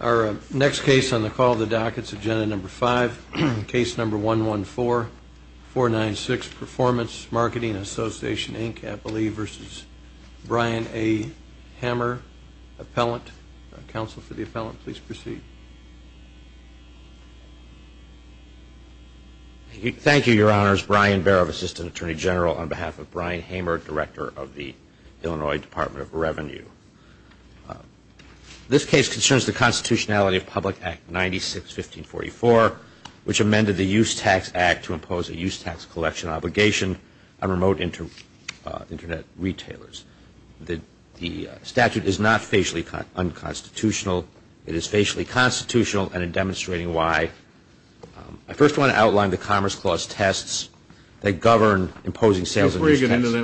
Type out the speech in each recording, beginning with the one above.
Our next case on the call of the dockets, Agenda No. 5, Case No. 114-496, Performance Marketing Association, Inc., I believe, v. Brian A. Hamer, Appellant. Counsel for the Appellant, please proceed. Thank you, Your Honors. Brian Baer of Assistant Attorney General on behalf of Brian Hamer, Director of the Illinois Department of Revenue. This case concerns the constitutionality of Public Act 96-1544, which amended the Use Tax Act to impose a use tax collection obligation on remote Internet retailers. The statute is not facially unconstitutional. It is facially constitutional and in demonstrating why I first want to outline the Commerce Clause tests that govern imposing sales and use taxes.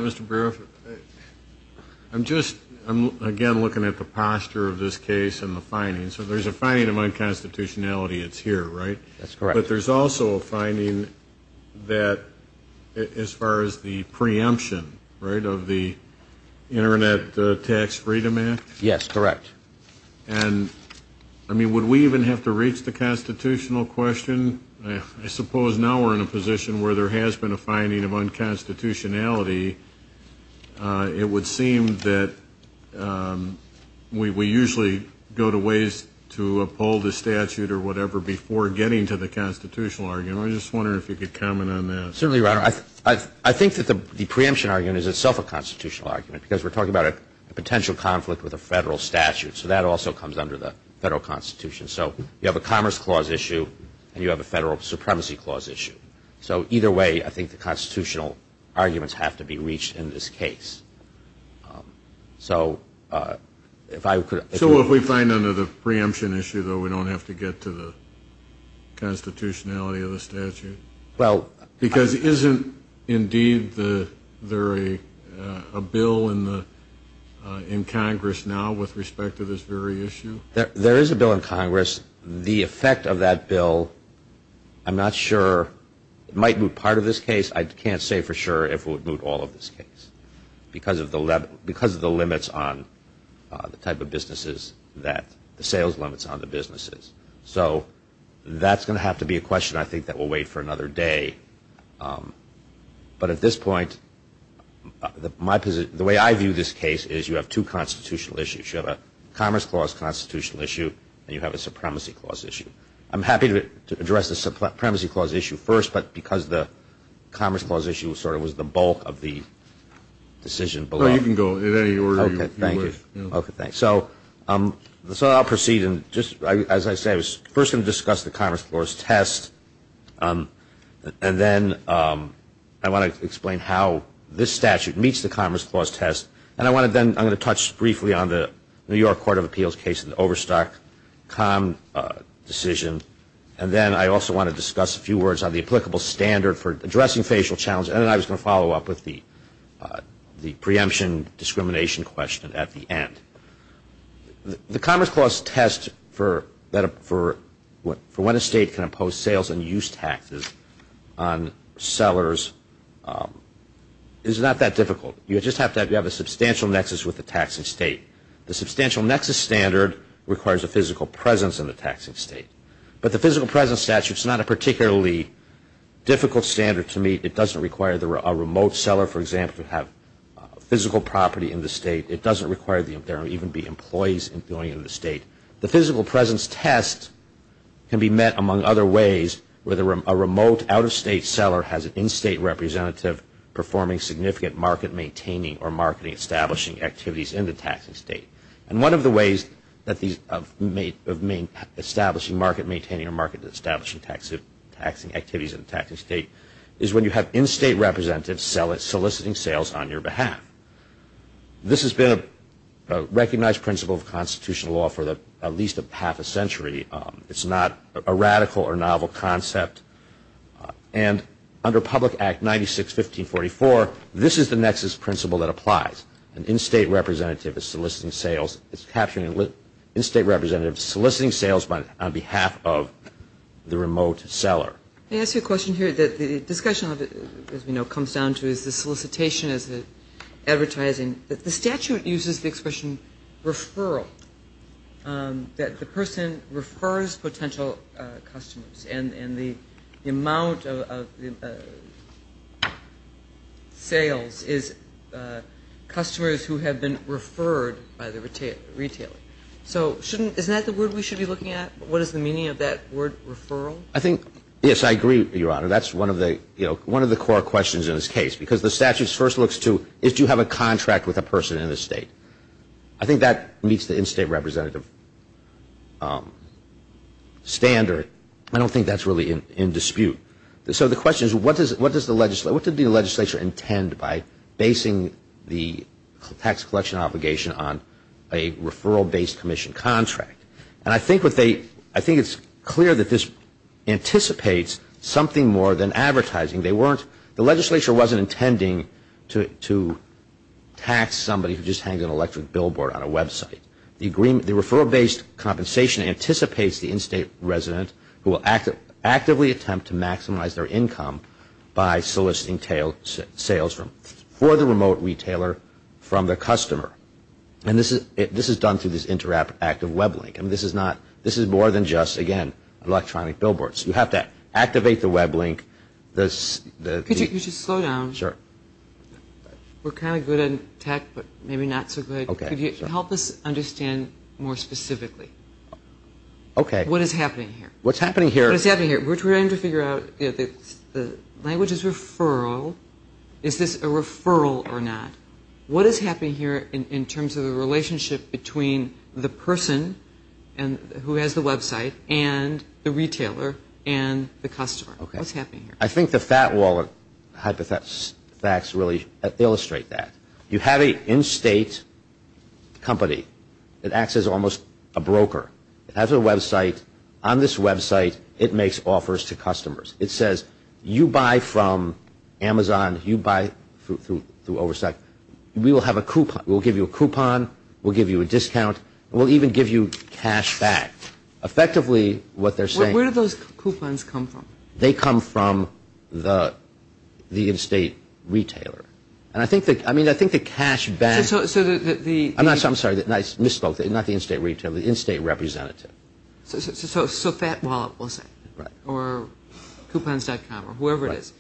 I'm just, again, looking at the posture of this case and the findings. So there's a finding of unconstitutionality. It's here, right? That's correct. But there's also a finding that as far as the preemption, right, of the Internet Tax Freedom Act? Yes, correct. And, I mean, would we even have to reach the constitutional question? I suppose now we're in a position where there has been a finding of unconstitutionality. It would seem that we usually go to ways to uphold the statute or whatever before getting to the constitutional argument. I was just wondering if you could comment on that. Certainly, Your Honor. I think that the preemption argument is itself a constitutional argument because we're talking about a potential conflict with a federal statute. So that also comes under the federal constitution. So you have a Commerce Clause issue and you have a Federal Supremacy Clause issue. So either way, I think the constitutional arguments have to be reached in this case. So if I could... So if we find under the preemption issue, though, we don't have to get to the constitutionality of the statute? Well... Because isn't, indeed, there a bill in Congress now with respect to this very issue? There is a bill in Congress. The effect of that bill, I'm not sure. It might move part of this case. I can't say for sure if it would move all of this case because of the limits on the type of businesses that the sales limits on the businesses. So that's going to have to be a question, I think, that will wait for another day. But at this point, the way I view this case is you have two constitutional issues. You have a Commerce Clause constitutional issue and you have a Supremacy Clause issue. I'm happy to address the Supremacy Clause issue first, but because the Commerce Clause issue sort of was the bulk of the decision below. No, you can go in any order you wish. Okay, thank you. Okay, thanks. So I'll proceed and just, as I say, I was first going to discuss the Commerce Clause test and then I want to explain how this statute meets the Commerce Clause test. And then I'm going to touch briefly on the New York Court of Appeals case and the Overstock Com decision. And then I also want to discuss a few words on the applicable standard for addressing facial challenges. And then I was going to follow up with the preemption discrimination question at the end. The Commerce Clause test for when a state can impose sales and use taxes on sellers is not that difficult. You just have to have a substantial nexus with the taxing state. The substantial nexus standard requires a physical presence in the taxing state. But the physical presence statute is not a particularly difficult standard to meet. It doesn't require a remote seller, for example, to have physical property in the state. It doesn't require there to even be employees going into the state. The physical presence test can be met among other ways where a remote out-of-state seller has an in-state representative performing significant market-maintaining or market-establishing activities in the taxing state. And one of the ways of establishing market-maintaining or market-establishing taxing activities in the taxing state is when you have in-state representatives soliciting sales on your behalf. This has been a recognized principle of constitutional law for at least half a century. It's not a radical or novel concept. And under Public Act 96-1544, this is the nexus principle that applies. An in-state representative is soliciting sales. It's capturing an in-state representative soliciting sales on behalf of the remote seller. Let me ask you a question here that the discussion of it, as we know, comes down to is the solicitation is advertising. The statute uses the expression referral, that the person refers potential customers. And the amount of sales is customers who have been referred by the retailer. So isn't that the word we should be looking at? What is the meaning of that word referral? I think, yes, I agree, Your Honor. That's one of the core questions in this case because the statute first looks to if you have a contract with a person in the state. I think that meets the in-state representative standard. I don't think that's really in dispute. So the question is what does the legislature intend by basing the tax collection obligation on a referral-based commission contract? And I think it's clear that this anticipates something more than advertising. The legislature wasn't intending to tax somebody who just hangs an electric billboard on a website. The referral-based compensation anticipates the in-state resident who will actively attempt to maximize their income by soliciting sales for the remote retailer from their customer. And this is done through this interactive web link. This is more than just, again, electronic billboards. You have to activate the web link. Could you just slow down? Sure. We're kind of good at tech but maybe not so good. Could you help us understand more specifically? Okay. What is happening here? What's happening here? We're trying to figure out the language is referral. Is this a referral or not? What is happening here in terms of the relationship between the person who has the website and the retailer and the customer? What's happening here? I think the fat wallet facts really illustrate that. You have an in-state company. It acts as almost a broker. It has a website. On this website, it makes offers to customers. It says, you buy from Amazon, you buy through Oversight. We will have a coupon. We'll give you a coupon. We'll give you a discount. We'll even give you cash back. Effectively, what they're saying Where do those coupons come from? They come from the in-state retailer. I mean, I think the cash back. I'm sorry. I misspoke. Not the in-state retailer. The in-state representative. So fat wallet, we'll say, or coupons.com or whoever it is.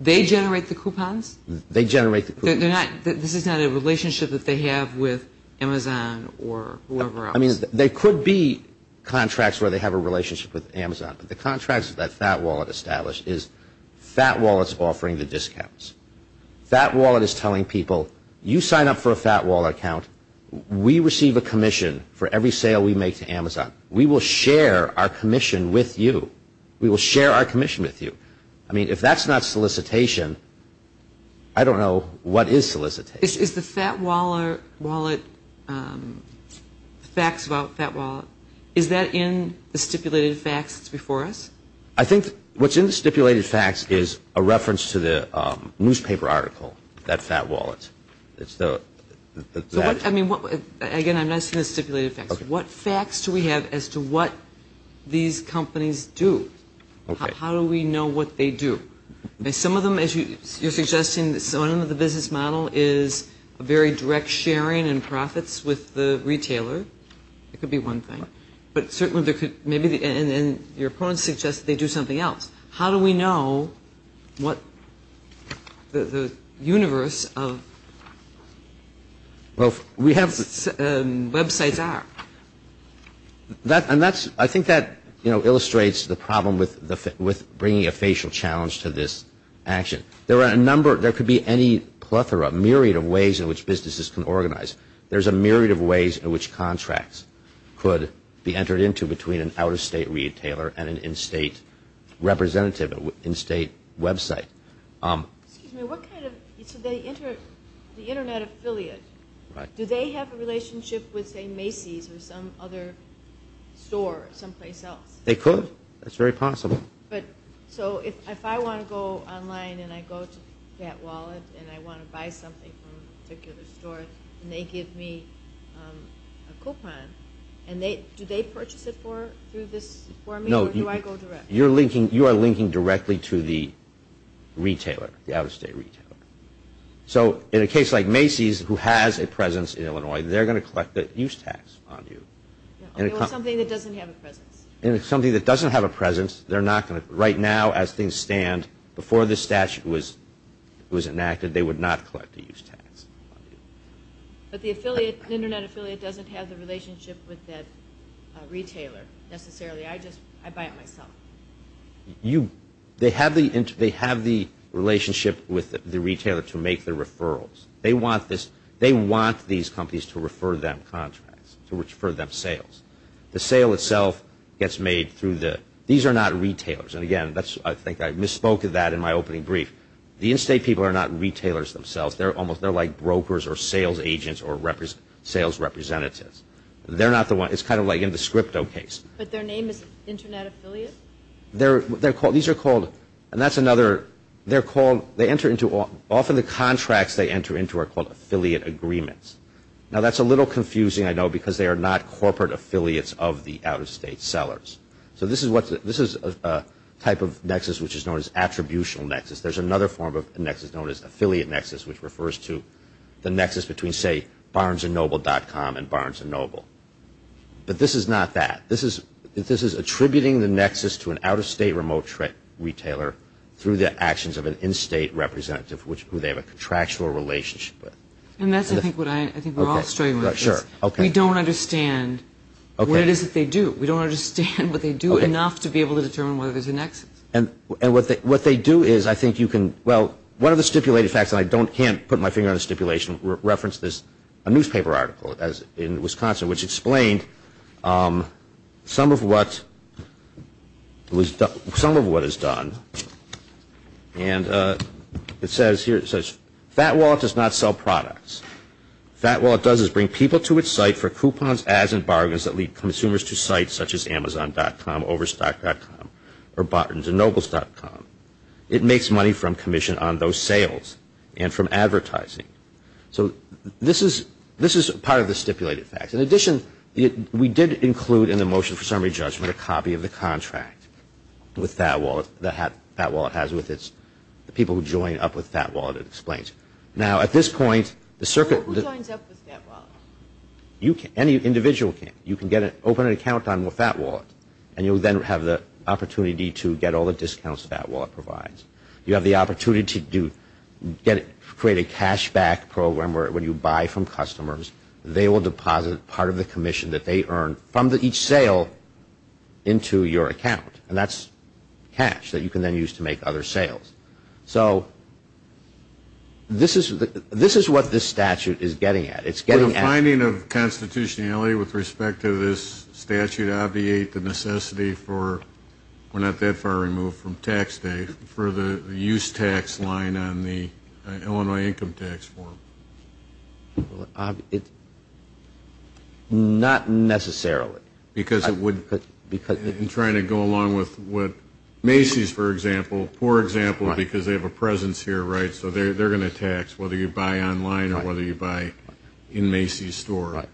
They generate the coupons? They generate the coupons. This is not a relationship that they have with Amazon or whoever else? I mean, there could be contracts where they have a relationship with Amazon, but the contracts that Fat Wallet established is Fat Wallet's offering the discounts. Fat Wallet is telling people, you sign up for a Fat Wallet account. We receive a commission for every sale we make to Amazon. We will share our commission with you. We will share our commission with you. I mean, if that's not solicitation, I don't know what is solicitation. Is the Fat Wallet fax about Fat Wallet, is that in the stipulated fax that's before us? I think what's in the stipulated fax is a reference to the newspaper article, that Fat Wallet. Again, I'm not saying the stipulated fax. What facts do we have as to what these companies do? How do we know what they do? Some of them, as you're suggesting, some of the business model is a very direct sharing in profits with the retailer. It could be one thing. But certainly there could maybe be, and your opponent suggests they do something else. How do we know what the universe of websites are? I think that illustrates the problem with bringing a facial challenge to this action. There are a number, there could be any plethora, myriad of ways in which businesses can organize. There's a myriad of ways in which contracts could be entered into between an out-of-state retailer and an in-state representative, an in-state website. Excuse me, what kind of, so the internet affiliate, do they have a relationship with, say, Macy's or some other store someplace else? They could. That's very possible. So if I want to go online and I go to Fat Wallet and I want to buy something from a particular store and they give me a coupon, do they purchase it for me or do I go directly? No, you are linking directly to the retailer, the out-of-state retailer. So in a case like Macy's, who has a presence in Illinois, they're going to collect the use tax on you. Something that doesn't have a presence. Something that doesn't have a presence. Right now, as things stand, before this statute was enacted, they would not collect the use tax on you. But the affiliate, the internet affiliate, doesn't have the relationship with that retailer necessarily. I buy it myself. They have the relationship with the retailer to make the referrals. They want these companies to refer them contracts, to refer them sales. The sale itself gets made through the – these are not retailers. And, again, I think I misspoke of that in my opening brief. The in-state people are not retailers themselves. They're like brokers or sales agents or sales representatives. They're not the ones – it's kind of like in the Scripto case. But their name is internet affiliate? These are called – and that's another – they're called – often the contracts they enter into are called affiliate agreements. Now, that's a little confusing, I know, because they are not corporate affiliates of the out-of-state sellers. So this is a type of nexus which is known as attributional nexus. There's another form of nexus known as affiliate nexus, which refers to the nexus between, say, Barnes and Noble.com and Barnes and Noble. But this is not that. This is attributing the nexus to an out-of-state remote retailer through the actions of an in-state representative who they have a contractual relationship with. And that's, I think, what I think we're all struggling with. Sure. Okay. We don't understand what it is that they do. We don't understand what they do enough to be able to determine whether there's a nexus. And what they do is, I think you can – well, one of the stipulated facts, and I can't put my finger on the stipulation, referenced this newspaper article in Wisconsin, which explained some of what is done. And it says here, it says, Fat Wallet does not sell products. Fat Wallet does is bring people to its site for coupons, ads, and bargains that lead consumers to sites such as Amazon.com, Overstock.com, or Barnes and Noble.com. It makes money from commission on those sales and from advertising. So this is part of the stipulated facts. In addition, we did include in the motion for summary judgment a copy of the contract with Fat Wallet that Fat Wallet has with its – the people who join up with Fat Wallet, it explains. Now, at this point, the circuit – Who joins up with Fat Wallet? Any individual can. You can open an account on Fat Wallet, and you'll then have the opportunity to get all the discounts Fat Wallet provides. You have the opportunity to create a cashback program where when you buy from customers, they will deposit part of the commission that they earn from each sale into your account. And that's cash that you can then use to make other sales. So this is what this statute is getting at. It's getting at – Would a finding of constitutionality with respect to this statute obviate the necessity for – we're not that far removed from tax day – for the use tax line on the Illinois Income Tax Form? It – not necessarily. Because it would – I'm trying to go along with what Macy's, for example, poor example because they have a presence here, right, so they're going to tax whether you buy online or whether you buy in Macy's store. Right.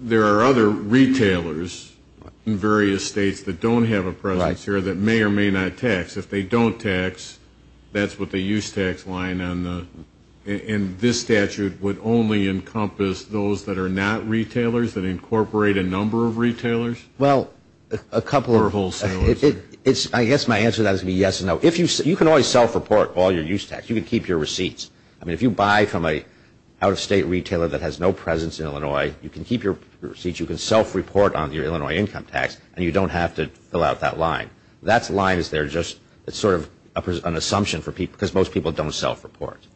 There are other retailers in various states that don't have a presence here that may or may not tax. If they don't tax, that's what the use tax line on the – and this statute would only encompass those that are not retailers, that incorporate a number of retailers? Well, a couple of – Or wholesalers. I guess my answer to that is going to be yes and no. If you – you can always self-report all your use tax. You can keep your receipts. I mean, if you buy from an out-of-state retailer that has no presence in Illinois, you can keep your receipts. You can self-report on your Illinois income tax, and you don't have to fill out that line. That line is there just – it's sort of an assumption for people because most people don't self-report.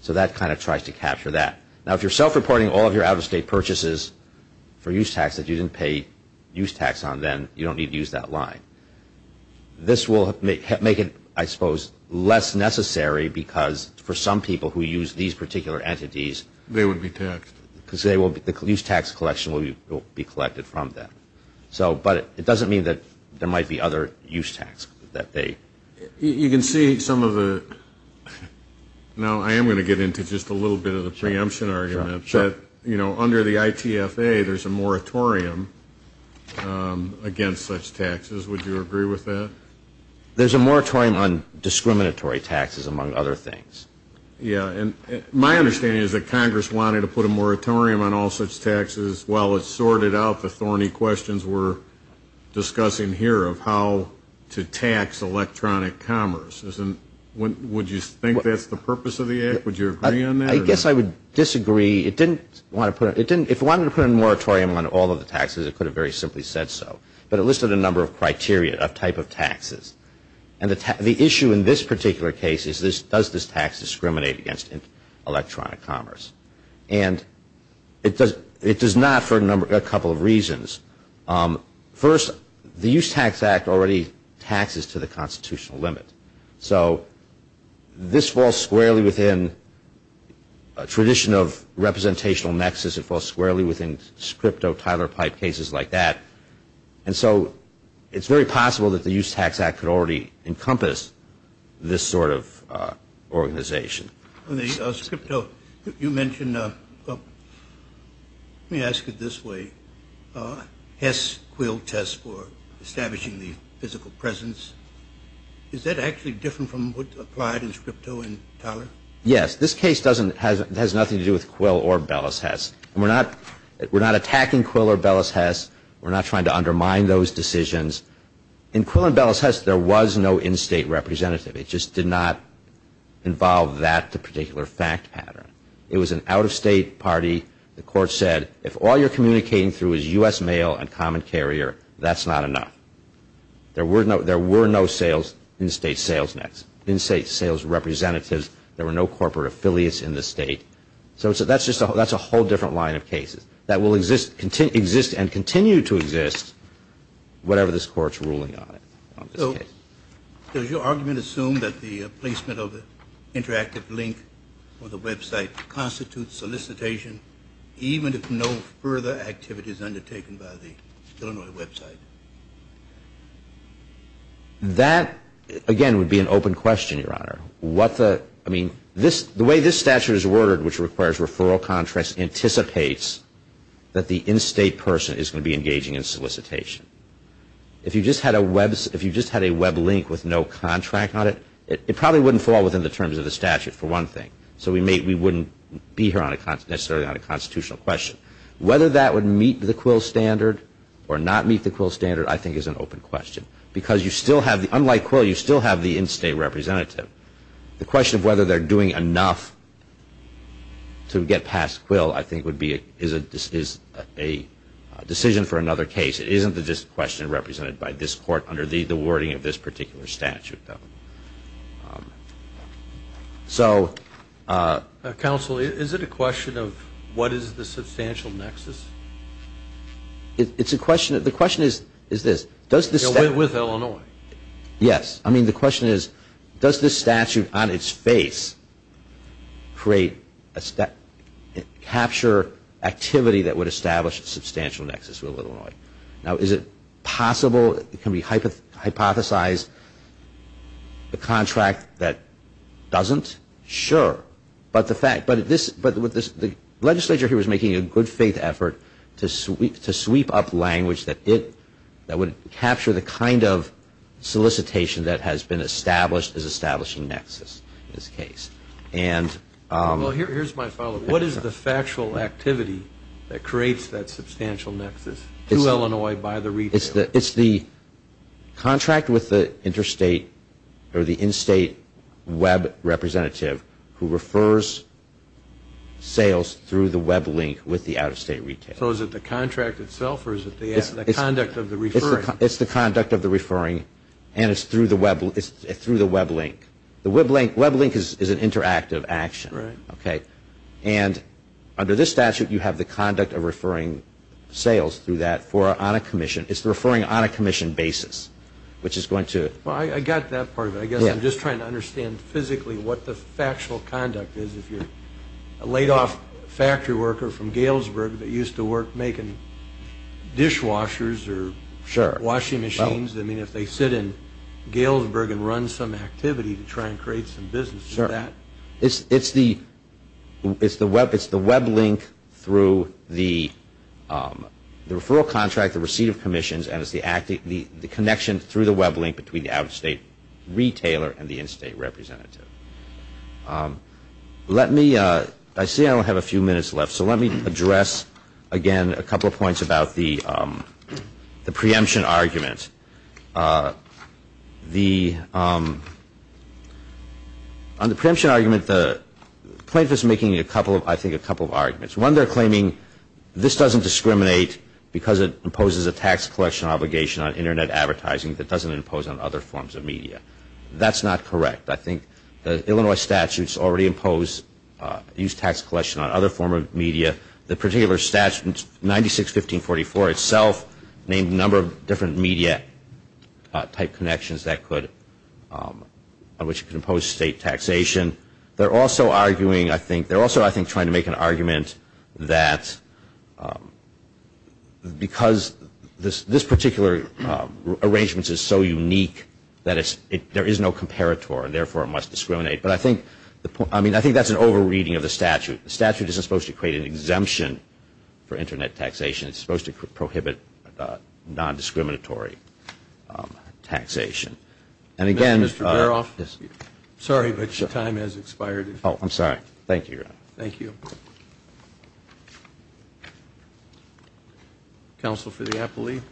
So that kind of tries to capture that. Now, if you're self-reporting all of your out-of-state purchases for use tax that you didn't pay use tax on then, you don't need to use that line. This will make it, I suppose, less necessary because for some people who use these particular entities – They would be taxed. Because they will – the use tax collection will be collected from them. So – but it doesn't mean that there might be other use tax that they – You can see some of the – now, I am going to get into just a little bit of the preemption argument. Sure. You know, under the ITFA, there's a moratorium against such taxes. Would you agree with that? There's a moratorium on discriminatory taxes, among other things. Yeah, and my understanding is that Congress wanted to put a moratorium on all such taxes. Well, it sorted out the thorny questions we're discussing here of how to tax electronic commerce. Would you think that's the purpose of the act? Would you agree on that? I guess I would disagree. It didn't want to put – If it wanted to put a moratorium on all of the taxes, it could have very simply said so. But it listed a number of criteria of type of taxes. And the issue in this particular case is does this tax discriminate against electronic commerce? And it does not for a couple of reasons. First, the Use Tax Act already taxes to the constitutional limit. So this falls squarely within a tradition of representational nexus. It falls squarely within scripto, Tyler Pipe cases like that. And so it's very possible that the Use Tax Act could already encompass this sort of organization. Scripto, you mentioned – let me ask it this way. Hess-Quill test for establishing the physical presence. Is that actually different from what's applied in scripto and Tyler? Yes. This case doesn't – has nothing to do with Quill or Bellis-Hess. We're not attacking Quill or Bellis-Hess. We're not trying to undermine those decisions. In Quill and Bellis-Hess, there was no in-state representative. It just did not involve that particular fact pattern. It was an out-of-state party. The court said if all you're communicating through is U.S. mail and common carrier, that's not enough. There were no in-state sales nets, in-state sales representatives. There were no corporate affiliates in the state. So that's a whole different line of cases that will exist and continue to exist, whatever this Court's ruling on it, on this case. So does your argument assume that the placement of the interactive link on the website constitutes solicitation, even if no further activity is undertaken by the Illinois website? That, again, would be an open question, Your Honor. What the – I mean, the way this statute is worded, which requires referral contracts, anticipates that the in-state person is going to be engaging in solicitation. If you just had a web link with no contract on it, it probably wouldn't fall within the terms of the statute, for one thing. So we wouldn't be here necessarily on a constitutional question. Whether that would meet the Quill standard or not meet the Quill standard, I think, is an open question. Because you still have – unlike Quill, you still have the in-state representative. The question of whether they're doing enough to get past Quill, I think, is a decision for another case. It isn't just a question represented by this Court under the wording of this particular statute, though. So – Counsel, is it a question of what is the substantial nexus? It's a question – the question is this. With Illinois. Yes. I mean, the question is, does this statute on its face create – capture activity that would establish a substantial nexus with Illinois? Now, is it possible – can we hypothesize a contract that doesn't? Sure. But the fact – but with this – the legislature here is making a good-faith effort to sweep up language that it – that would capture the kind of solicitation that has been established as establishing nexus in this case. And – Well, here's my follow-up. What is the factual activity that creates that substantial nexus to Illinois by the retailer? It's the contract with the interstate or the in-state web representative who refers sales through the web link with the out-of-state retailer. So is it the contract itself, or is it the conduct of the referring? It's the conduct of the referring, and it's through the web link. The web link – web link is an interactive action. Right. Okay. And under this statute, you have the conduct of referring sales through that for – on a commission. It's the referring on a commission basis, which is going to – Well, I got that part of it. Yeah. I guess I'm just trying to understand physically what the factual conduct is. If you're a laid-off factory worker from Galesburg that used to work making dishwashers or – Sure. – washing machines. I mean, if they sit in Galesburg and run some activity to try and create some business. Sure. It's the web link through the referral contract, the receipt of commissions, and it's the connection through the web link between the out-of-state retailer and the in-state representative. Let me – I see I only have a few minutes left, so let me address again a couple of points about the preemption argument. The – on the preemption argument, the plaintiff is making a couple of – I think a couple of arguments. One, they're claiming this doesn't discriminate because it imposes a tax collection obligation on Internet advertising that doesn't impose on other forms of media. That's not correct. I think the Illinois statutes already impose – use tax collection on other form of media. The particular statute, 96-1544 itself, named a number of different media-type connections that could – on which it could impose state taxation. They're also arguing, I think – they're also, I think, trying to make an argument that because this particular arrangement is so unique that it's – there is no comparator and, therefore, it must discriminate. But I think – I mean, I think that's an over-reading of the statute. The statute isn't supposed to create an exemption for Internet taxation. It's supposed to prohibit non-discriminatory taxation. And again – Mr. Peroff? Yes. Sorry, but your time has expired. Oh, I'm sorry. Thank you, Your Honor. Thank you. Counsel for the appellee.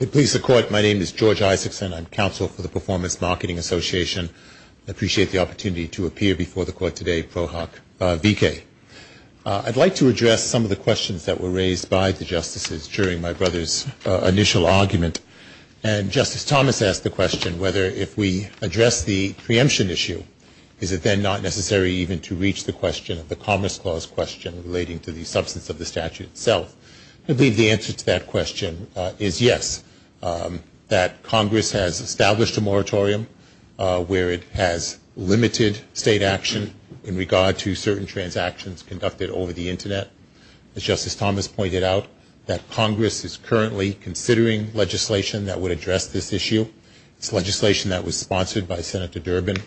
If it pleases the Court, my name is George Isaacson. I'm counsel for the Performance Marketing Association. I appreciate the opportunity to appear before the Court today, ProHoc V.K. I'd like to address some of the questions that were raised by the justices during my brother's initial operation. And Justice Thomas asked the question whether if we address the preemption issue, is it then not necessary even to reach the question of the Commerce Clause question relating to the substance of the statute itself? I believe the answer to that question is yes, that Congress has established a moratorium where it has limited state action in regard to certain transactions conducted over the Internet. As Justice Thomas pointed out, that Congress is currently considering legislation that would address this issue. It's legislation that was sponsored by Senator Durbin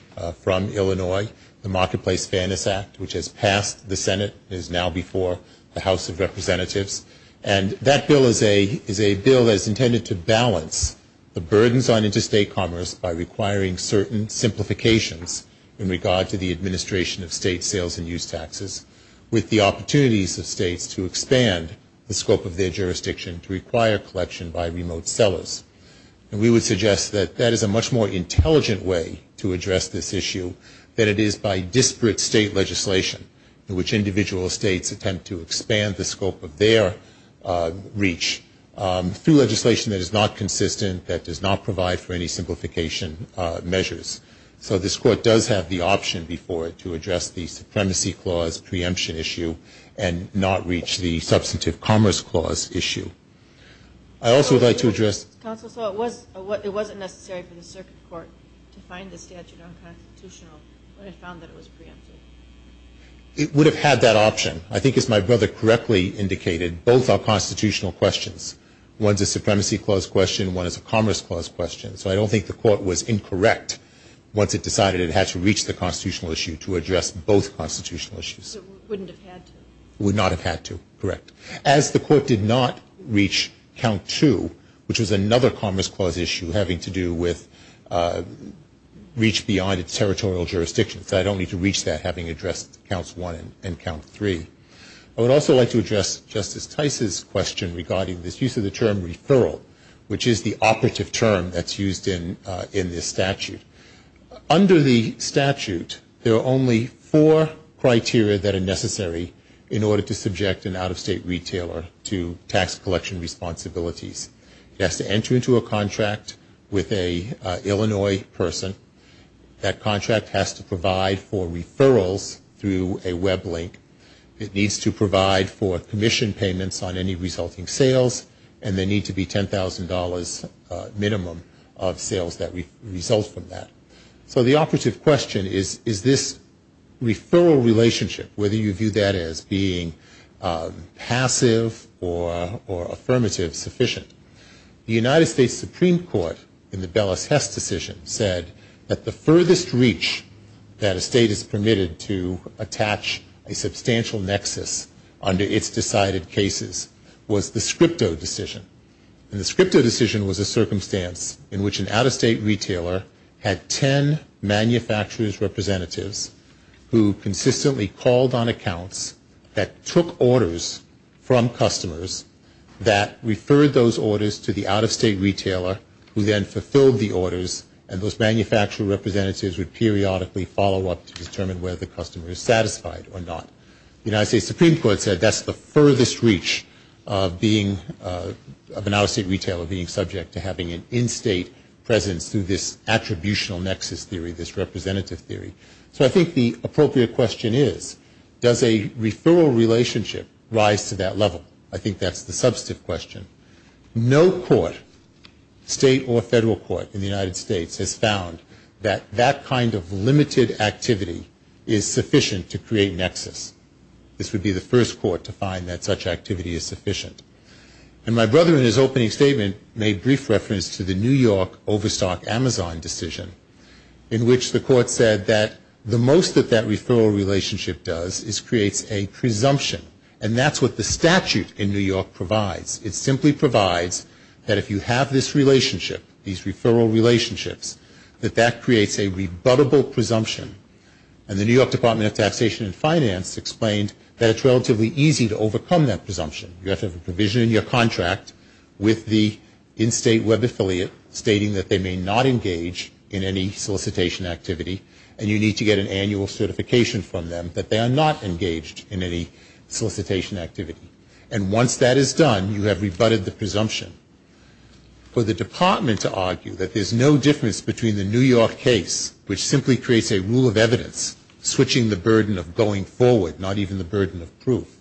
from Illinois, the Marketplace Fairness Act, which has passed the Senate and is now before the House of Representatives. And that bill is a bill that is intended to balance the burdens on interstate commerce by requiring certain simplifications in regard to the administration of state sales and use taxes with the opportunities of states to expand the scope of their jurisdiction to require collection by remote sellers. And we would suggest that that is a much more intelligent way to address this issue than it is by disparate state legislation in which individual states attempt to expand the scope of their reach through legislation that is not consistent, that does not provide for any simplification measures. So this Court does have the option before it to address the Supremacy Clause preemption issue and not reach the Substantive Commerce Clause issue. I also would like to address... Counsel, so it wasn't necessary for the Circuit Court to find the statute unconstitutional when it found that it was preempted? It would have had that option. I think, as my brother correctly indicated, both are constitutional questions. One is a Supremacy Clause question, one is a Commerce Clause question. So I don't think the Court was incorrect once it decided it had to reach the constitutional issue to address both constitutional issues. So it wouldn't have had to? It would not have had to, correct. As the Court did not reach Count 2, which was another Commerce Clause issue having to do with reach beyond its territorial jurisdiction, so I don't need to reach that having addressed Counts 1 and Count 3. I would also like to address Justice Tice's question regarding this use of the term referral, which is the operative term that's used in this statute. Under the statute, there are only four criteria that are necessary in order to subject an out-of-state retailer to tax collection responsibilities. It has to enter into a contract with an Illinois person. That contract has to provide for referrals through a web link. It needs to provide for commission payments on any resulting sales, and they need to be $10,000 minimum of sales that result from that. So the operative question is, is this referral relationship, whether you view that as being passive or affirmative, sufficient? The United States Supreme Court, in the Bellis-Hess decision, said that the furthest reach that a state is permitted to attach a substantial nexus under its decided cases was the Scripto decision. And the Scripto decision was a circumstance in which an out-of-state retailer had 10 manufacturers' representatives who consistently called on accounts that took orders from customers that referred those orders to the out-of-state retailer who then fulfilled the orders, and those manufacturer representatives would periodically follow up to determine whether the customer is satisfied or not. The United States Supreme Court said that's the furthest reach of an out-of-state retailer being subject to having an in-state presence through this attributional nexus theory, this representative theory. So I think the appropriate question is, does a referral relationship rise to that level? I think that's the substantive question. No court, state or federal court in the United States, has found that that kind of limited activity is sufficient to create nexus. This would be the first court to find that such activity is sufficient. And my brother in his opening statement made brief reference to the New York overstock Amazon decision in which the court said that the most that that referral relationship does is creates a presumption, and that's what the statute in New York provides. It simply provides that if you have this relationship, these referral relationships, that that creates a rebuttable presumption. And the New York Department of Taxation and Finance explained that it's relatively easy to overcome that presumption. You have to have a provision in your contract with the in-state web affiliate stating that they may not engage in any solicitation activity, and you need to get an annual certification from them that they are not engaged in any solicitation activity. And once that is done, you have rebutted the presumption. For the department to argue that there's no difference between the New York case, which simply creates a rule of evidence, switching the burden of going forward, not even the burden of proof,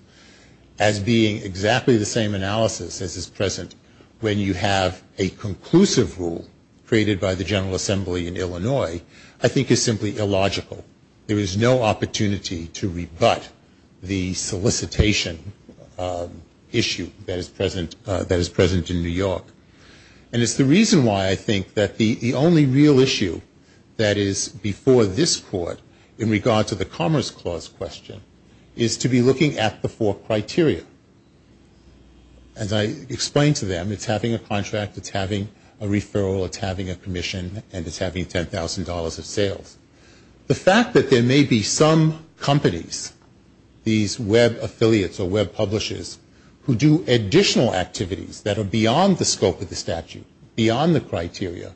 as being exactly the same analysis as is present when you have a conclusive rule created by the General Assembly in Illinois, I think is simply illogical. There is no opportunity to rebut the solicitation issue that is present in New York. And it's the reason why I think that the only real issue that is before this Court in regard to the Commerce Clause question is to be looking at the four criteria. As I explained to them, it's having a contract, it's having a referral, it's having a commission, and it's having $10,000 of sales. The fact that there may be some companies, these web affiliates or web publishers, who do additional activities that are beyond the scope of the statute, beyond the criteria,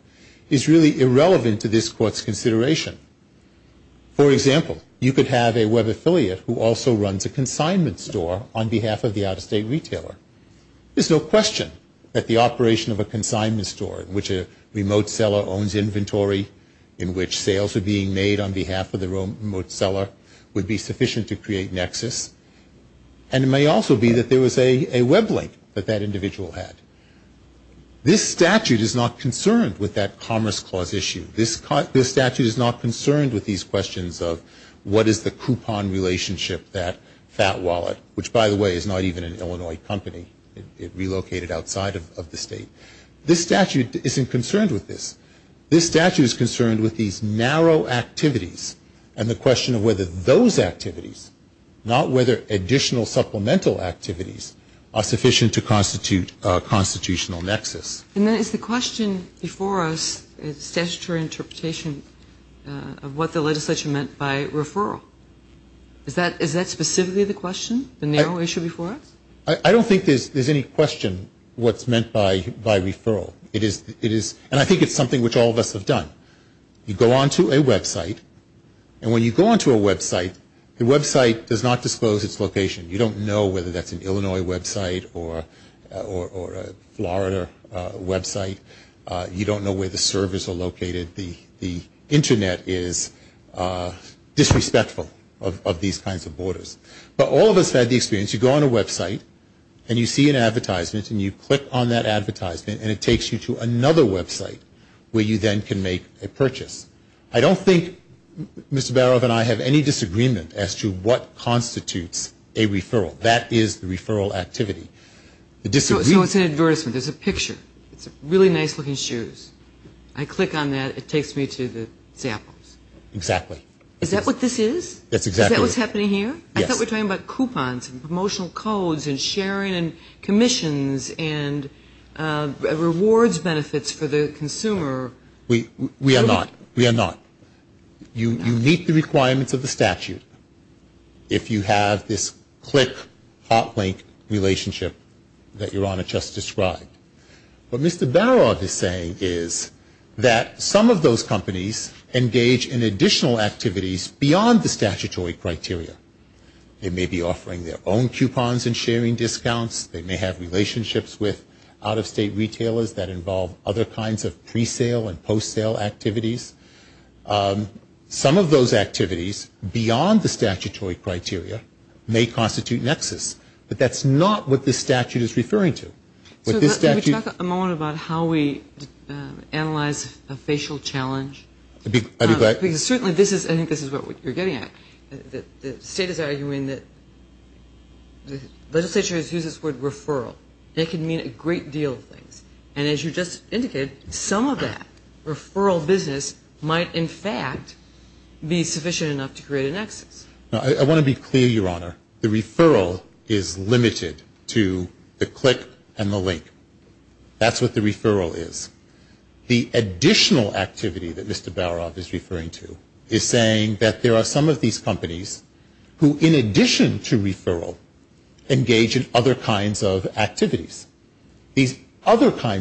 is really irrelevant to this Court's consideration. For example, you could have a web affiliate who also runs a consignment store on behalf of the out-of-state retailer. There's no question that the operation of a consignment store, in which a remote seller owns inventory, in which sales are being made on behalf of the remote seller, would be sufficient to create nexus. And it may also be that there was a web link that that individual had. This statute is not concerned with that Commerce Clause issue. This statute is not concerned with these questions of what is the coupon relationship, that fat wallet, which, by the way, is not even an Illinois company. It relocated outside of the state. This statute isn't concerned with this. This statute is concerned with these narrow activities and the question of whether those activities, not whether additional supplemental activities, are sufficient to constitute a constitutional nexus. And then is the question before us a statutory interpretation of what the legislation meant by referral? Is that specifically the question, the narrow issue before us? I don't think there's any question what's meant by referral. And I think it's something which all of us have done. You go onto a website, and when you go onto a website, the website does not disclose its location. You don't know whether that's an Illinois website or a Florida website. You don't know where the servers are located. The Internet is disrespectful of these kinds of borders. But all of us have had the experience. You go on a website, and you see an advertisement, and you click on that advertisement, and it takes you to another website where you then can make a purchase. I don't think Mr. Barov and I have any disagreement as to what constitutes a referral. That is the referral activity. So it's an advertisement. There's a picture. It's really nice-looking shoes. I click on that. It takes me to the samples. Exactly. Is that what this is? That's exactly what it is. Is that what's happening here? Yes. I thought we were talking about coupons and promotional codes and sharing and commissions and rewards benefits for the consumer. We are not. We are not. You meet the requirements of the statute if you have this click, hot link relationship that Your Honor just described. What Mr. Barov is saying is that some of those companies engage in additional activities beyond the statutory criteria. They may be offering their own coupons and sharing discounts. They may have relationships with out-of-state retailers that involve other kinds of pre-sale and post-sale activities. Some of those activities beyond the statutory criteria may constitute nexus. But that's not what this statute is referring to. Can we talk a moment about how we analyze a facial challenge? Certainly, I think this is what you're getting at. The state is arguing that the legislature has used this word referral. It can mean a great deal of things. And as you just indicated, some of that referral business might, in fact, be sufficient enough to create a nexus. I want to be clear, Your Honor. The referral is limited to the click and the link. That's what the referral is. The additional activity that Mr. Barov is referring to is saying that there are some of these companies who, in addition to referral, engage in other kinds of activities. Consequently,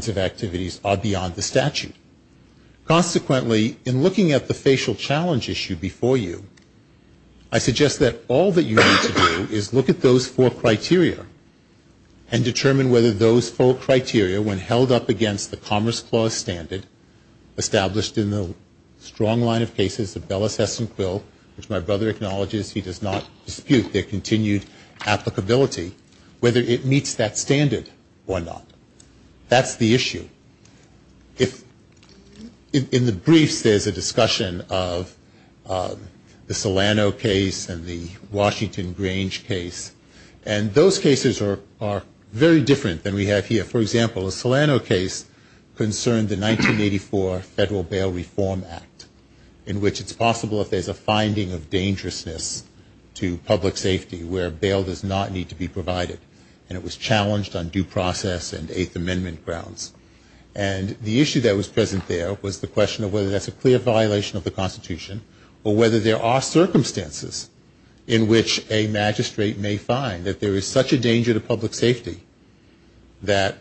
in looking at the facial challenge issue before you, I suggest that all that you need to do is look at those four criteria and determine whether those four criteria, when held up against the Commerce Clause standard, established in the strong line of cases of Bellis-Hess and Quill, which my brother acknowledges he does not dispute their continued applicability, whether it meets that standard or not. That's the issue. In the briefs, there's a discussion of the Solano case and the Washington Grange case. And those cases are very different than we have here. For example, the Solano case concerned the 1984 Federal Bail Reform Act, in which it's possible if there's a finding of dangerousness to public safety where bail does not need to be provided. And it was challenged on due process and Eighth Amendment grounds. And the issue that was present there was the question of whether that's a clear violation of the Constitution or whether there are circumstances in which a magistrate may find that there is such a danger to public safety that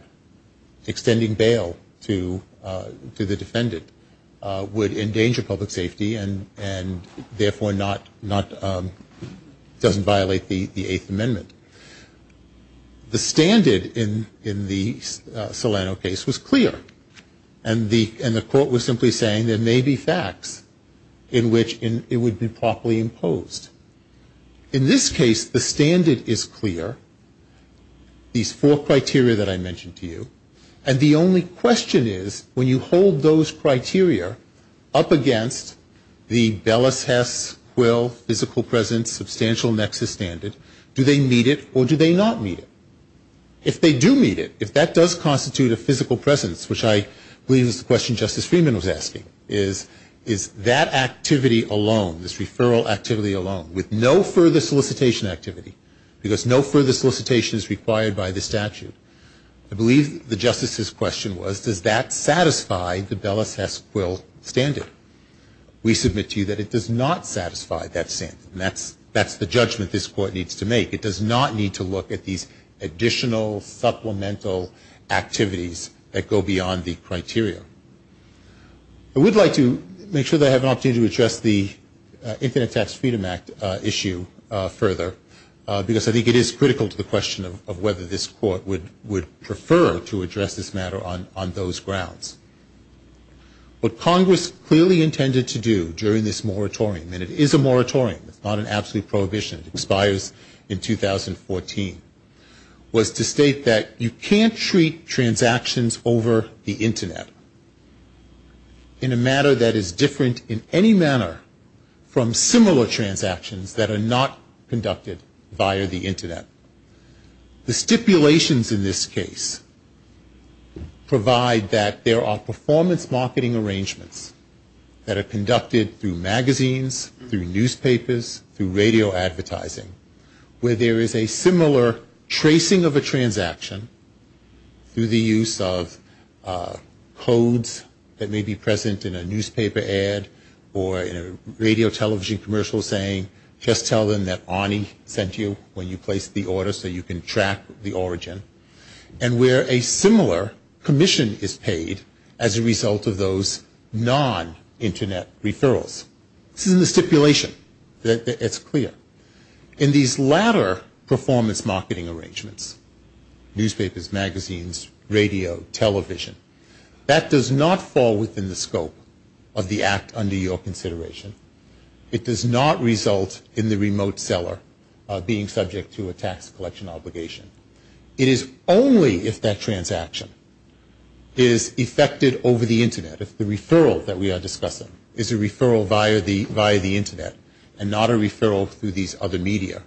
extending bail to the defendant would endanger public safety and therefore doesn't violate the Eighth Amendment. The standard in the Solano case was clear. And the court was simply saying there may be facts in which it would be properly imposed. In this case, the standard is clear, these four criteria that I mentioned to you. And the only question is when you hold those criteria up against the Bellis Hess Quill physical presence substantial nexus standard, do they meet it or do they not meet it? If they do meet it, if that does constitute a physical presence, which I believe is the question Justice Freeman was asking, is that activity alone, this referral activity alone, with no further solicitation activity, because no further solicitation is required by the statute, I believe the justice's question was does that satisfy the Bellis Hess Quill standard? We submit to you that it does not satisfy that standard. And that's the judgment this court needs to make. It does not need to look at these additional supplemental activities that go beyond the criteria. I would like to make sure that I have an opportunity to address the Infinite Tax Freedom Act issue further, because I think it is critical to the question of whether this court would prefer to address this matter on those grounds. What Congress clearly intended to do during this moratorium, and it is a moratorium, it's not an absolute prohibition, it expires in 2014, was to state that you can't treat transactions over the Internet in a manner that is different in any manner from similar transactions that are not conducted via the Internet. The stipulations in this case provide that there are performance marketing arrangements that are conducted through magazines, through newspapers, through radio advertising, where there is a similar tracing of a transaction through the use of codes that may be present in a newspaper ad or in a radio television commercial saying just tell them that Arnie sent you when you placed the order so you can track the origin, and where a similar commission is paid as a result of those non-Internet referrals. This is in the stipulation. It's clear. In these latter performance marketing arrangements, newspapers, magazines, radio, television, that does not fall within the scope of the act under your consideration. It does not result in the remote seller being subject to a tax collection obligation. It is only if that transaction is effected over the Internet, if the referral that we are discussing is a referral via the Internet and not a referral through these other media,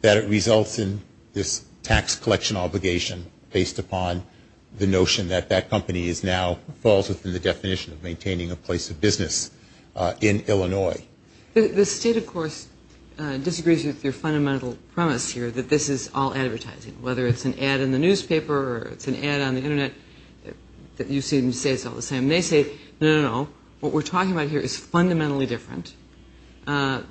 that it results in this tax collection obligation based upon the notion that that company now falls within the definition of maintaining a place of business in Illinois. The state, of course, disagrees with your fundamental premise here that this is all advertising, whether it's an ad in the newspaper or it's an ad on the Internet, that you seem to say it's all the same. They say, no, no, no, what we're talking about here is fundamentally different.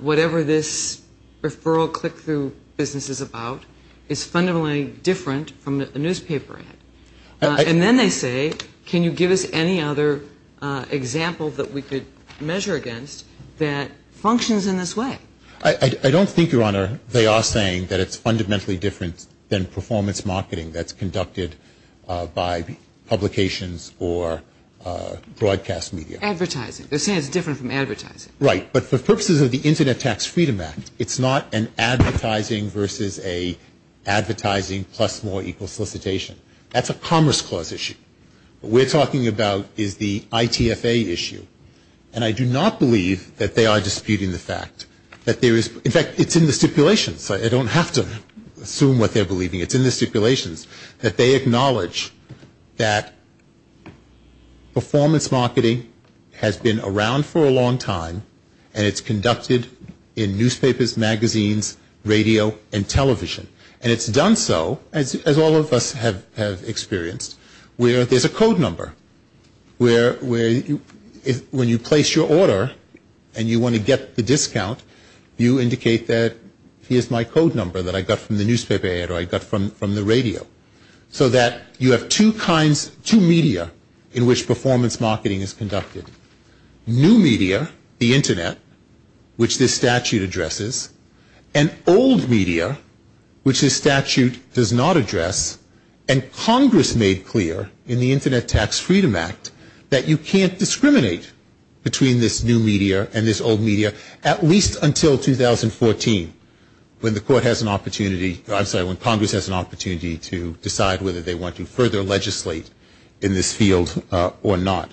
Whatever this referral click-through business is about is fundamentally different from a newspaper ad. And then they say, can you give us any other example that we could measure against that functions in this way? They are saying that it's fundamentally different than performance marketing that's conducted by publications or broadcast media. Advertising. They're saying it's different from advertising. Right. But for purposes of the Internet Tax Freedom Act, it's not an advertising versus a advertising plus more equal solicitation. That's a Commerce Clause issue. What we're talking about is the ITFA issue. And I do not believe that they are disputing the fact that there is – it's in the stipulations. I don't have to assume what they're believing. It's in the stipulations that they acknowledge that performance marketing has been around for a long time and it's conducted in newspapers, magazines, radio, and television. And it's done so, as all of us have experienced, where there's a code number. When you place your order and you want to get the discount, you indicate that here's my code number that I got from the newspaper ad or I got from the radio. So that you have two kinds – two media in which performance marketing is conducted. New media, the Internet, which this statute addresses, and old media, which this statute does not address, and Congress made clear in the Internet Tax Freedom Act that you can't discriminate between this new media and this old media at least until 2014 when the court has an opportunity – I'm sorry, when Congress has an opportunity to decide whether they want to further legislate in this field or not.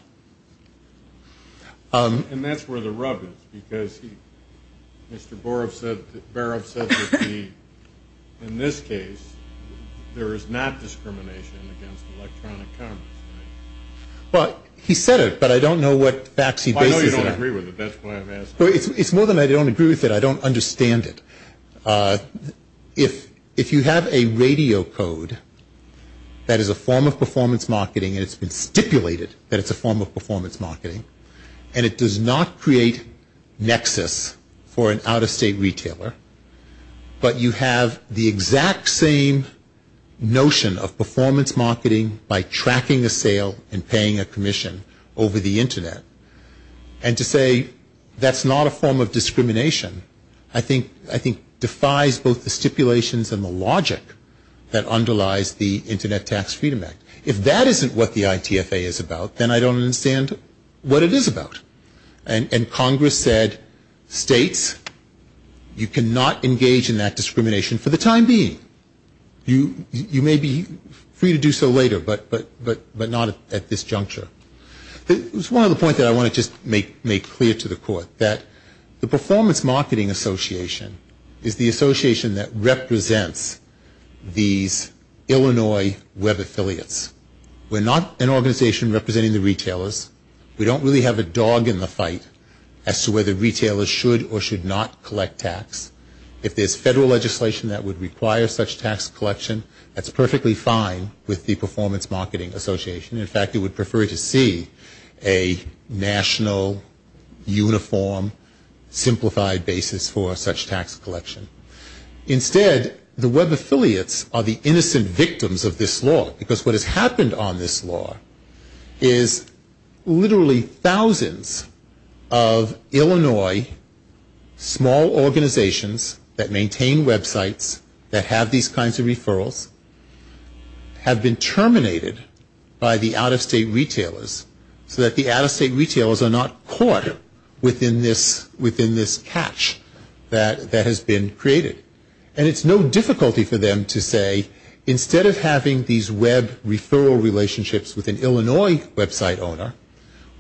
And that's where the rub is because Mr. Baroff said that in this case, there is not discrimination against electronic commerce. Well, he said it, but I don't know what facts he bases it on. Well, I know you don't agree with it. That's why I'm asking. It's more than I don't agree with it. I don't understand it. If you have a radio code that is a form of performance marketing and it's been stipulated that it's a form of performance marketing and it does not create nexus for an out-of-state retailer, but you have the exact same notion of performance marketing by tracking a sale and paying a commission over the Internet, and to say that's not a form of discrimination, I think defies both the stipulations and the logic that underlies the Internet Tax Freedom Act. If that isn't what the ITFA is about, then I don't understand what it is about. And Congress said, States, you cannot engage in that discrimination for the time being. You may be free to do so later, but not at this juncture. There's one other point that I want to just make clear to the Court, that the Performance Marketing Association is the association that represents these Illinois web affiliates. We're not an organization representing the retailers. We don't really have a dog in the fight as to whether retailers should or should not collect tax. If there's federal legislation that would require such tax collection, that's perfectly fine with the Performance Marketing Association. In fact, it would prefer to see a national, uniform, simplified basis for such tax collection. Instead, the web affiliates are the innocent victims of this law, because what has happened on this law is literally thousands of Illinois small organizations that maintain websites, that have these kinds of referrals, have been terminated by the out-of-state retailers, so that the out-of-state retailers are not caught within this catch that has been created. And it's no difficulty for them to say, instead of having these web referral relationships with an Illinois website owner,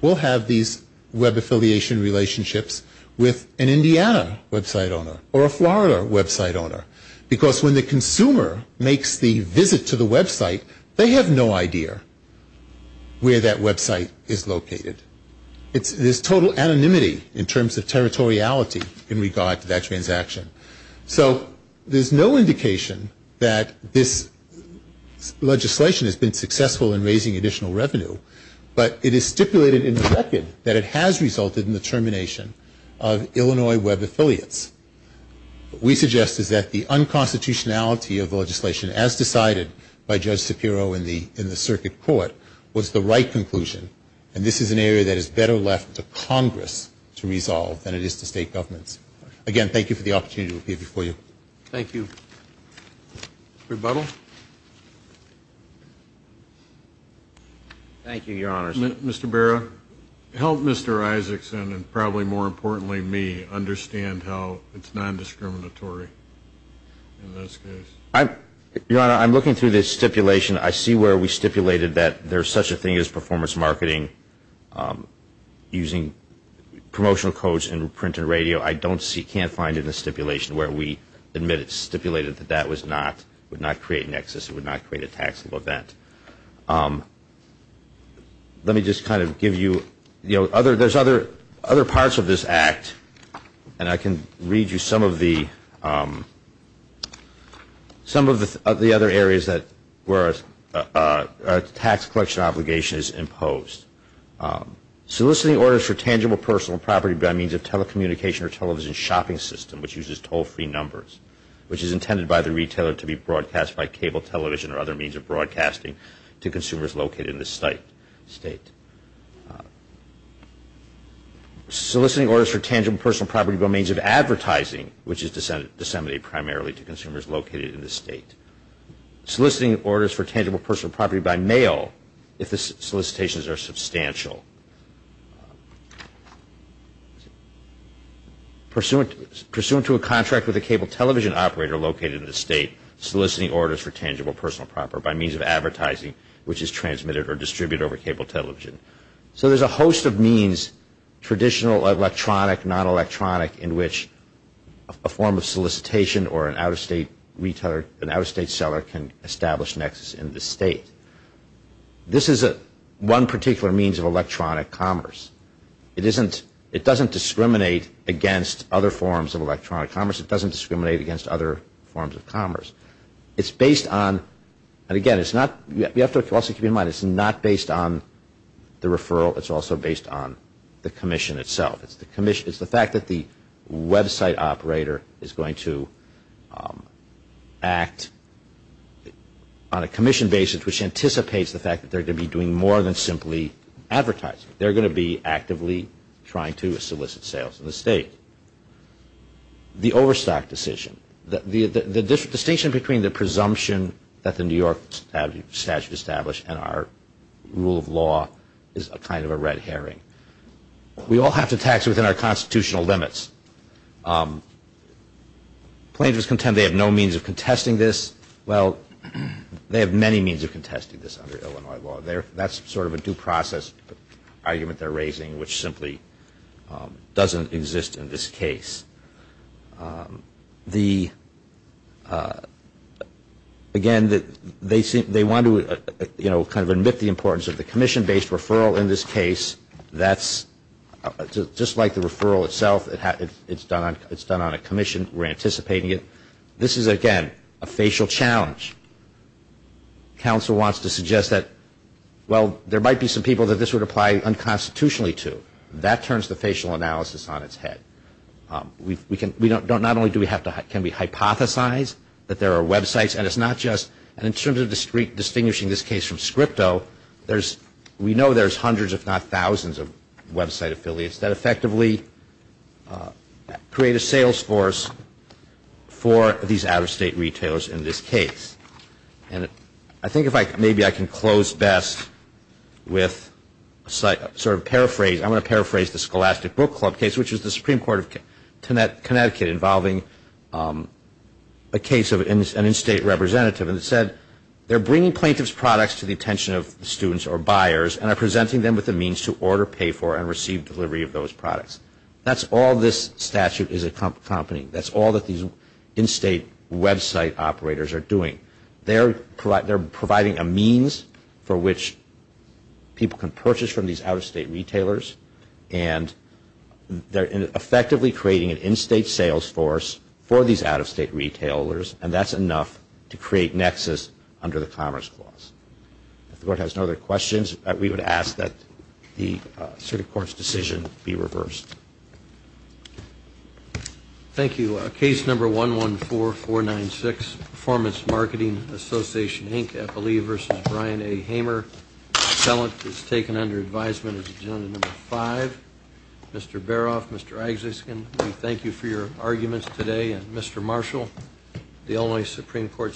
we'll have these web affiliation relationships with an Indiana website owner or a Florida website owner. Because when the consumer makes the visit to the website, they have no idea where that website is located. There's total anonymity in terms of territoriality in regard to that transaction. So there's no indication that this legislation has been successful in raising additional revenue, but it is stipulated in the record that it has resulted in the termination of Illinois web affiliates. What we suggest is that the unconstitutionality of the legislation, as decided by Judge Shapiro in the circuit court, was the right conclusion. And this is an area that is better left to Congress to resolve than it is to state governments. Again, thank you for the opportunity to appear before you. Thank you. Rebuttal. Thank you, Your Honors. Mr. Barrow, help Mr. Isaacson, and probably more importantly me, understand how it's non-discriminatory in this case. Your Honor, I'm looking through the stipulation. I see where we stipulated that there's such a thing as performance marketing using promotional codes in print and radio. I don't see, can't find it in the stipulation where we admit it's stipulated that that was not, would not create an excess, would not create a taxable event. Let me just kind of give you, you know, there's other parts of this act, and I can read you some of the other areas where a tax collection obligation is imposed. Soliciting orders for tangible personal property by means of telecommunication or television shopping system, which uses toll-free numbers, which is intended by the retailer to be broadcast by cable television or other means of broadcasting to consumers located in the state. Soliciting orders for tangible personal property by means of advertising, which is disseminated primarily to consumers located in the state. Soliciting orders for tangible personal property by mail if the solicitations are substantial. Pursuant to a contract with a cable television operator located in the state, soliciting orders for tangible personal property by means of advertising, which is transmitted or distributed over cable television. So there's a host of means, traditional electronic, non-electronic, in which a form of solicitation or an out-of-state retailer, an out-of-state seller can establish nexus in the state. This is one particular means of electronic commerce. It doesn't discriminate against other forms of electronic commerce. It doesn't discriminate against other forms of commerce. It's based on, and again, it's not, you have to also keep in mind, it's not based on the referral. It's also based on the commission itself. It's the fact that the website operator is going to act on a commission basis, which anticipates the fact that they're going to be doing more than simply advertising. They're going to be actively trying to solicit sales in the state. The overstock decision. The distinction between the presumption that the New York statute established and our rule of law is kind of a red herring. We all have to tax it within our constitutional limits. Plaintiffs contend they have no means of contesting this. Well, they have many means of contesting this under Illinois law. That's sort of a due process argument they're raising, which simply doesn't exist in this case. Again, they want to kind of admit the importance of the commission-based referral in this case. That's just like the referral itself. It's done on a commission. We're anticipating it. This is, again, a facial challenge. Counsel wants to suggest that, well, there might be some people that this would apply unconstitutionally to. That turns the facial analysis on its head. Not only can we hypothesize that there are websites, and in terms of distinguishing this case from scripto, we know there's hundreds, if not thousands, of website affiliates that effectively create a sales force for these out-of-state retailers in this case. I think maybe I can close best with a sort of paraphrase. I'm going to paraphrase the Scholastic Book Club case, which was the Supreme Court of Connecticut involving a case of an in-state representative, and it said they're bringing plaintiff's products to the attention of students or buyers and are presenting them with a means to order, pay for, and receive delivery of those products. That's all this statute is accompanying. That's all that these in-state website operators are doing. They're providing a means for which people can purchase from these out-of-state retailers, and they're effectively creating an in-state sales force for these out-of-state retailers, and that's enough to create nexus under the Commerce Clause. If the Court has no other questions, we would ask that the circuit court's decision be reversed. Thank you. Case number 114496, Performance Marketing Association, Inc., FLE v. Brian A. Hamer. The felon is taken under advisement as agenda number five. Mr. Baroff, Mr. Agziskin, we thank you for your arguments today, and Mr. Marshall, the Illinois Supreme Court stands adjourned.